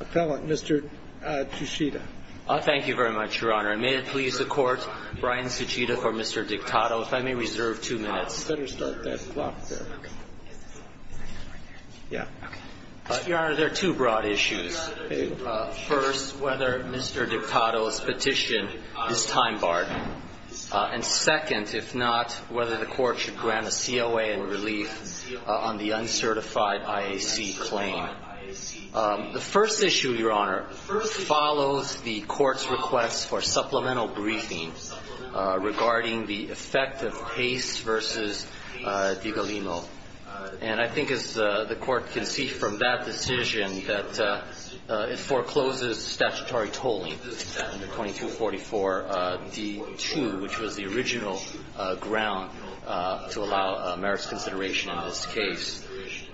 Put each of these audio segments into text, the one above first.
Appellant, Mr. Tsuchida. Thank you very much, Your Honor. And may it please the Court, Brian Tsuchida for Mr. Dictado. If I may reserve two minutes. You better start that clock there. Yeah. Your Honor, there are two broad issues. First, whether Mr. Dictado's petition is time-barred. And second, if not, whether the Court should grant a COA in relief on the uncertified IAC claim. The first issue, Your Honor, follows the Court's request for supplemental briefing regarding the effect of Pace v. DiGalino. And I think, as the Court can see from that decision, that it forecloses statutory tolling, 2244 D2, which was the original ground to allow merits consideration in this case.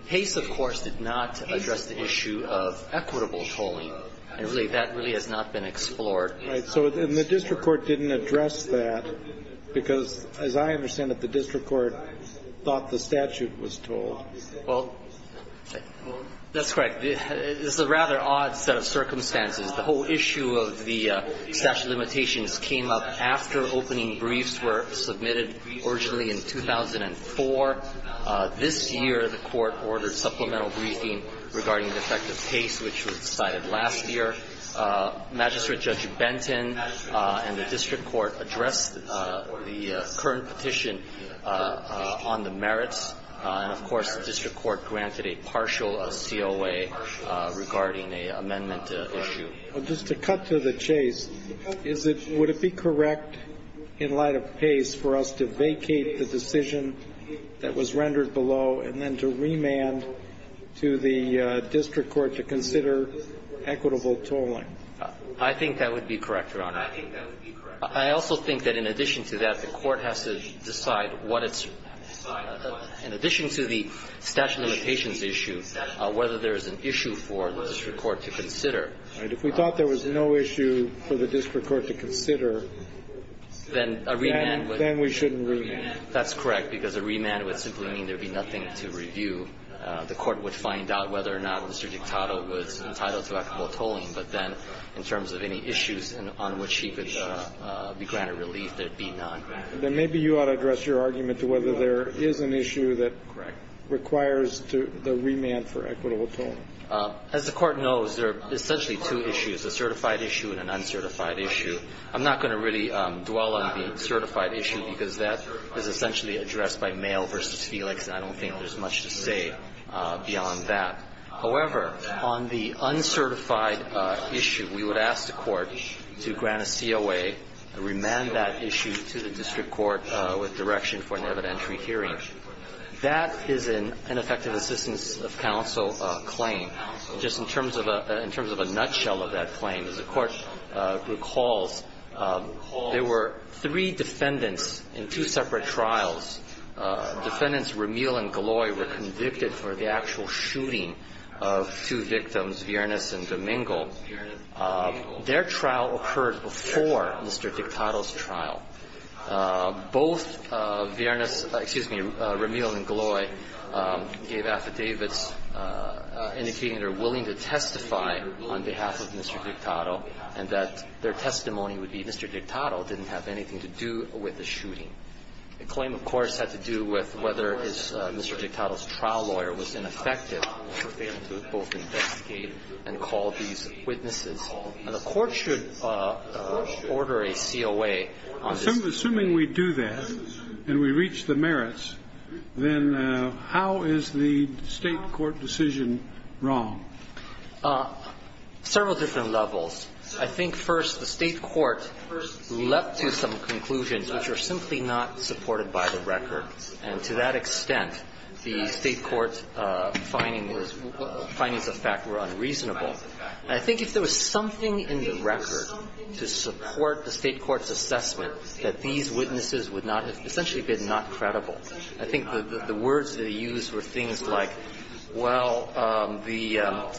Pace, of course, did not address the issue of equitable tolling. And really, that really has not been explored. Right. And the district court didn't address that because, as I understand it, the district court thought the statute was tolled. Well, that's correct. It's a rather odd set of circumstances. The whole issue of the statute of limitations came up after opening briefs were submitted originally in 2004. This year, the Court ordered supplemental briefing regarding the effect of Pace, which was decided last year. Magistrate Judge Benton and the district court addressed the current petition on the merits. And, of course, the district court granted a partial COA regarding the amendment issue. Just to cut to the chase, would it be correct, in light of Pace, for us to vacate the decision that was rendered below and then to remand to the district court to consider equitable tolling? I think that would be correct, Your Honor. I think that would be correct. I also think that in addition to that, the court has to decide what its – in addition to the statute of limitations issue, whether there is an issue for the district court to consider. All right. If we thought there was no issue for the district court to consider, then we shouldn't remand. That's correct, because a remand would simply mean there would be nothing to review. The court would find out whether or not Mr. Dictato was entitled to equitable tolling, but then in terms of any issues on which he could be granted relief, there would be none. Then maybe you ought to address your argument to whether there is an issue that requires the remand for equitable tolling. As the Court knows, there are essentially two issues, a certified issue and an uncertified issue. I'm not going to really dwell on the certified issue, because that is essentially addressed by Mayo v. Felix, and I don't think there's much to say beyond that. However, on the uncertified issue, we would ask the Court to grant a COA and remand that issue to the district court with direction for an evidentiary hearing. That is an ineffective assistance of counsel claim. Just in terms of a nutshell of that claim, as the Court recalls, there were three defendants in two separate trials. Defendants Ramil and Gloy were convicted for the actual shooting of two victims, Viernes and Domingo. Both Viernes – excuse me, Ramil and Gloy gave affidavits indicating they're willing to testify on behalf of Mr. Dictato and that their testimony would be Mr. Dictato didn't have anything to do with the shooting. The claim, of course, had to do with whether Mr. Dictato's trial lawyer was ineffective for failing to both investigate and call these witnesses. And the Court should order a COA on this. Assuming we do that and we reach the merits, then how is the State court decision wrong? Several different levels. I think, first, the State court left to some conclusions which are simply not supported by the record. And to that extent, the State court's findings of fact were unreasonable. And I think if there was something in the record to support the State court's assessment that these witnesses would not have essentially been not credible, I think the words they used were things like, well, the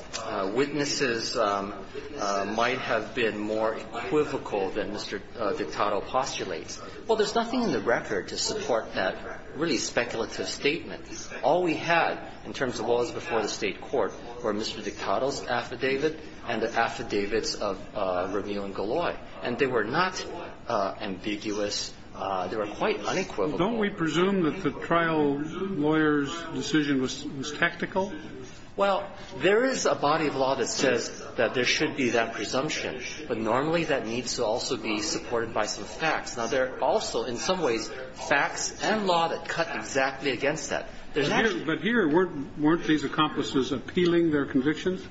witnesses might have been more equivocal than Mr. Dictato postulates. Well, there's nothing in the record to support that really speculative statement. All we had in terms of what was before the State court were Mr. Dictato's affidavit and the affidavits of Rameel and Goloi, and they were not ambiguous. They were quite unequivocal. Don't we presume that the trial lawyer's decision was tactical? Well, there is a body of law that says that there should be that presumption. But normally that needs to also be supported by some facts. Now, there are also in some ways facts and law that cut exactly against that. There's actually not. But here, weren't these accomplices appealing their convictions?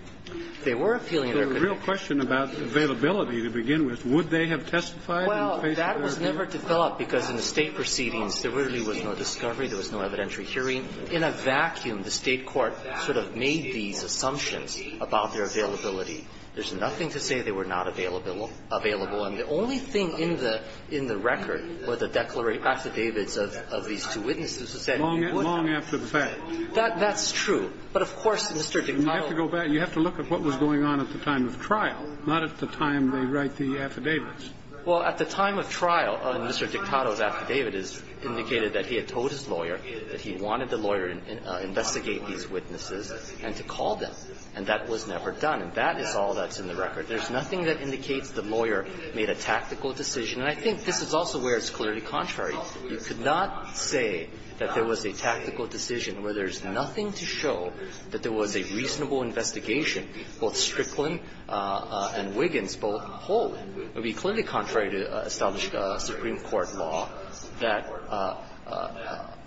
They were appealing their convictions. So the real question about availability to begin with, would they have testified in the case of Rameel? Well, that was never developed, because in the State proceedings, there really was no discovery, there was no evidentiary hearing. In a vacuum, the State court sort of made these assumptions about their availability. There's nothing to say they were not available. And the only thing in the record were the affidavits of these two witnesses who said they were not. Long after the fact. That's true. But, of course, Mr. Dictato. You have to go back and you have to look at what was going on at the time of trial, not at the time they write the affidavits. Well, at the time of trial, Mr. Dictato's affidavit indicated that he had told his lawyer that he wanted the lawyer to investigate these witnesses and to call them. And that was never done. And that is all that's in the record. There's nothing that indicates the lawyer made a tactical decision. And I think this is also where it's clearly contrary. You could not say that there was a tactical decision where there's nothing to show that there was a reasonable investigation. Both Strickland and Wiggins both hold. It would be clearly contrary to established Supreme Court law that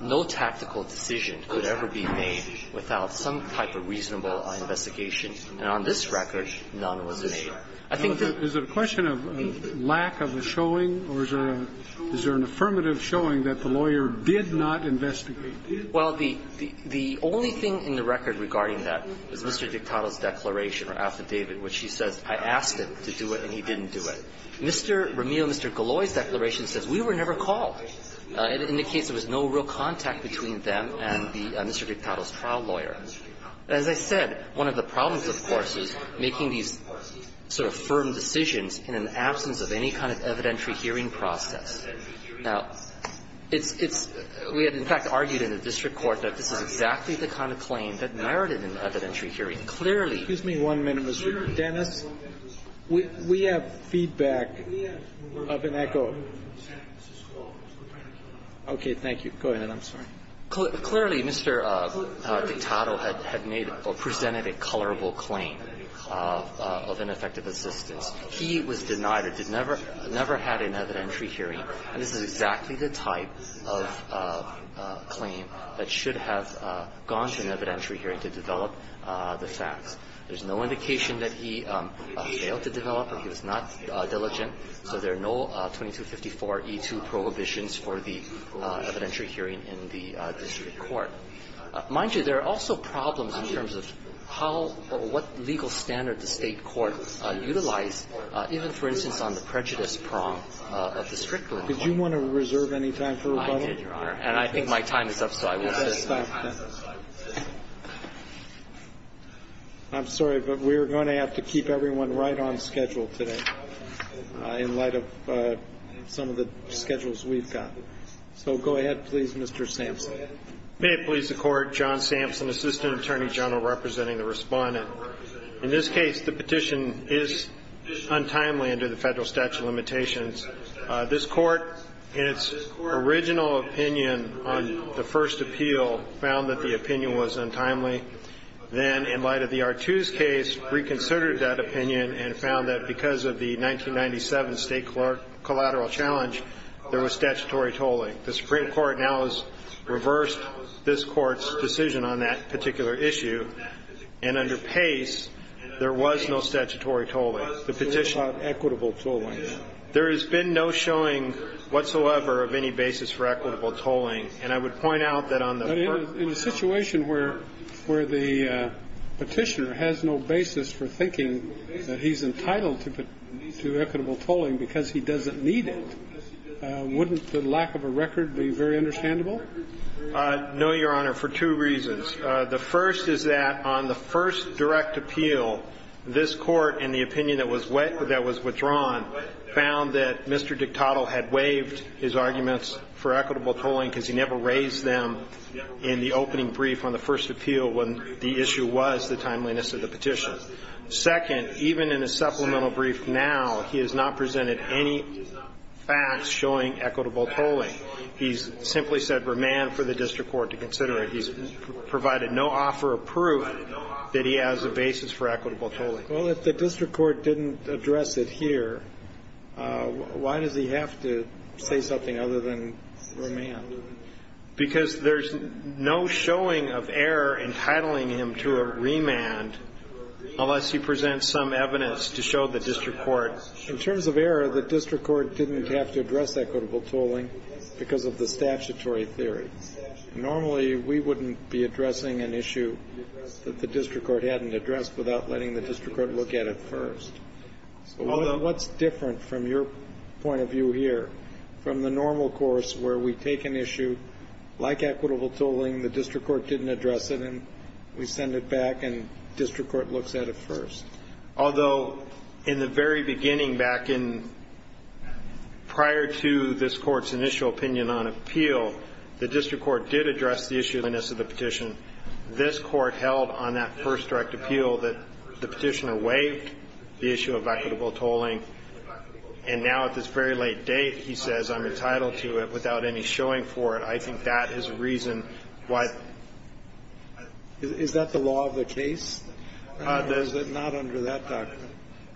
no tactical decision could ever be made without some type of reasonable investigation. And on this record, none was made. I think the ---- Is it a question of lack of a showing or is there an affirmative showing that the lawyer did not investigate? Well, the only thing in the record regarding that is Mr. Dictato's declaration or affidavit, which he says, I asked him to do it and he didn't do it. Mr. Romeo and Mr. Gallois' declaration says we were never called. It indicates there was no real contact between them and Mr. Dictato's trial lawyer. As I said, one of the problems, of course, is making these sort of firm decisions in an absence of any kind of evidentiary hearing process. Now, it's we had, in fact, argued in the district court that this is exactly the kind of claim that narrowed it in evidentiary hearing. Clearly ---- Excuse me one minute, Mr. Dennis. We have feedback of an echo. Okay. Thank you. Go ahead. I'm sorry. Clearly, Mr. Dictato had made or presented a colorable claim of ineffective assistance. He was denied or never had an evidentiary hearing, and this is exactly the type of claim that should have gone to an evidentiary hearing to develop the facts. There's no indication that he failed to develop or he was not diligent, so there are no 2254E2 prohibitions for the evidentiary hearing in the district court. Mind you, there are also problems in terms of how or what legal standard the State court utilized, even, for instance, on the prejudice prong of the district court. Did you want to reserve any time for rebuttal? I did, Your Honor, and I think my time is up, so I will finish. I'm sorry, but we're going to have to keep everyone right on schedule today in light of some of the schedules we've got. So go ahead, please, Mr. Sampson. May it please the Court. John Sampson, Assistant Attorney General, representing the Respondent. In this case, the petition is untimely under the Federal statute of limitations. This Court, in its original opinion on the first appeal, found that the opinion was untimely. Then, in light of the R2's case, reconsidered that opinion and found that because of the 1997 State collateral challenge, there was statutory tolling. The Supreme Court now has reversed this Court's decision on that particular issue, and under Pace, there was no statutory tolling. The petitioner has no basis for equitable tolling. There has been no showing whatsoever of any basis for equitable tolling, and I would point out that on the first appeal. But in a situation where the petitioner has no basis for thinking that he's entitled to equitable tolling because he doesn't need it, wouldn't the lack of a record be very understandable? No, Your Honor, for two reasons. The first is that on the first direct appeal, this Court, in the opinion that was withdrawn, found that Mr. Dictato had waived his arguments for equitable tolling because he never raised them in the opening brief on the first appeal when the issue was the timeliness of the petition. Second, even in a supplemental brief now, he has not presented any facts showing equitable tolling. He's simply said remand for the district court to consider it. He's provided no offer of proof that he has a basis for equitable tolling. Well, if the district court didn't address it here, why does he have to say something other than remand? Because there's no showing of error entitling him to a remand unless he presents some evidence to show the district court. In terms of error, the district court didn't have to address equitable tolling because of the statutory theory. Normally, we wouldn't be addressing an issue that the district court hadn't addressed without letting the district court look at it first. What's different from your point of view here, from the normal course where we take an issue like equitable tolling, the district court didn't address it, and we send it back, and district court looks at it first? Although in the very beginning, back in prior to this court's initial opinion on appeal, the district court did address the issue of the petition. This court held on that first direct appeal that the petitioner waived the issue of equitable tolling, and now at this very late date, he says, I'm entitled to it without any showing for it. I think that is a reason why. Is that the law of the case? It's not under that document.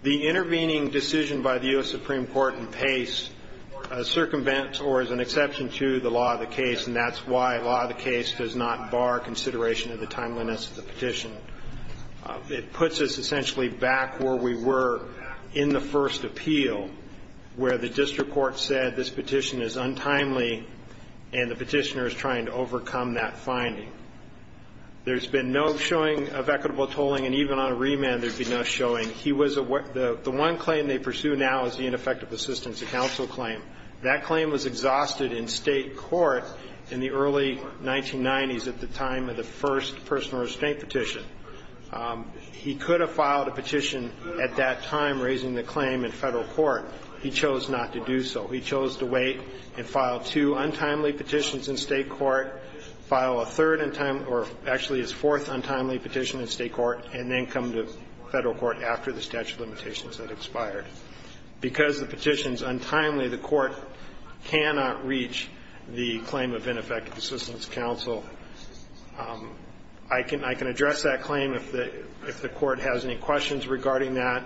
The intervening decision by the U.S. Supreme Court in Pace circumvent or is an exception to the law of the case, and that's why law of the case does not bar consideration of the timeliness of the petition. It puts us essentially back where we were in the first appeal, where the district court said this petition is untimely and the petitioner is trying to overcome that finding. There's been no showing of equitable tolling, and even on a remand, there's been no showing. He was the one claim they pursue now is the ineffective assistance of counsel claim. That claim was exhausted in state court in the early 1990s at the time of the first personal restraint petition. He could have filed a petition at that time raising the claim in federal court. He chose not to do so. He chose to wait and file two untimely petitions in state court, file a third untimely or actually his fourth untimely petition in state court, and then come to federal court after the statute of limitations had expired. Because the petition is untimely, the court cannot reach the claim of ineffective assistance of counsel. I can address that claim if the court has any questions regarding that.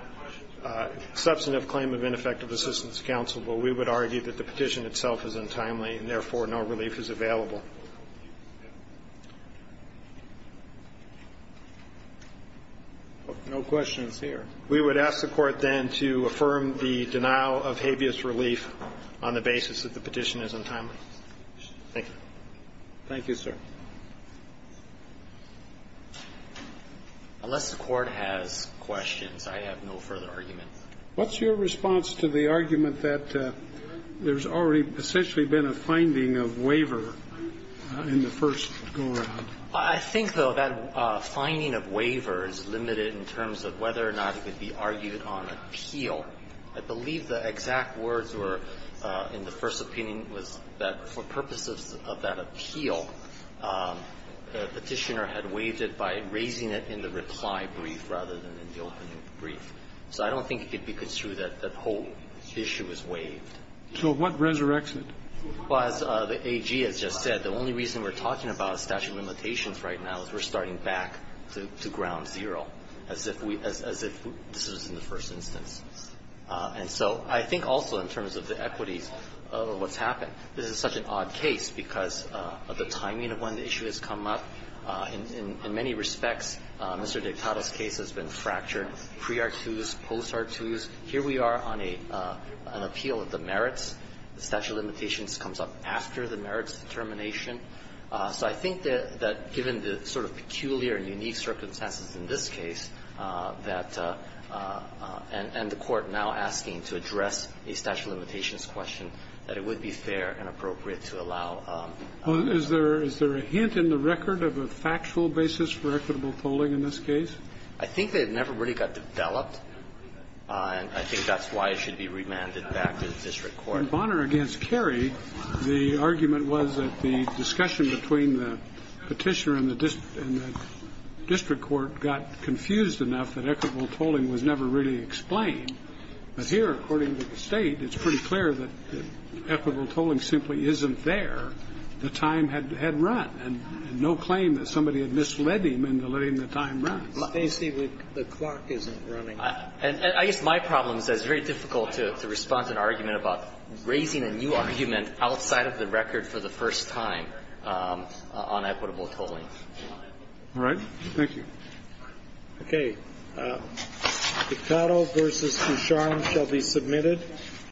Substantive claim of ineffective assistance of counsel, but we would argue that the petition itself is untimely and, therefore, no relief is available. No questions here. We would ask the court then to affirm the denial of habeas relief on the basis that the petition is untimely. Thank you. Thank you, sir. Unless the Court has questions, I have no further argument. What's your response to the argument that there's already essentially been a finding of waiver in the first go-around? I think, though, that finding of waiver is limited in terms of whether or not it could be argued on appeal. I believe the exact words were, in the first opinion, was that for purposes of that appeal, the Petitioner had waived it by raising it in the reply brief rather than in the opening brief. So I don't think it could be construed that that whole issue was waived. So what resurrects it? Well, as the AG has just said, the only reason we're talking about statute of limitations right now is we're starting back to ground zero, as if we – as if this was in the first instance. And so I think also in terms of the equities of what's happened, this is such an odd case because of the timing of when the issue has come up. In many respects, Mr. Dictato's case has been fractured, pre-R2s, post-R2s. Here we are on an appeal of the merits. The statute of limitations comes up after the merits determination. So I think that given the sort of peculiar and unique circumstances in this case that – and the Court now asking to address a statute of limitations question, that it would be fair and appropriate to allow. Is there a hint in the record of a factual basis for equitable polling in this case? I think that it never really got developed, and I think that's why it should be remanded back to the district court. In Bonner v. Carey, the argument was that the discussion between the Petitioner and the district court got confused enough that equitable polling was never really explained. But here, according to the State, it's pretty clear that equitable polling simply isn't there. The time had run. And no claim that somebody had misled him into letting the time run. The clock isn't running. And I guess my problem is that it's very difficult to respond to an argument about raising a new argument outside of the record for the first time on equitable tolling. All right. Thank you. Okay.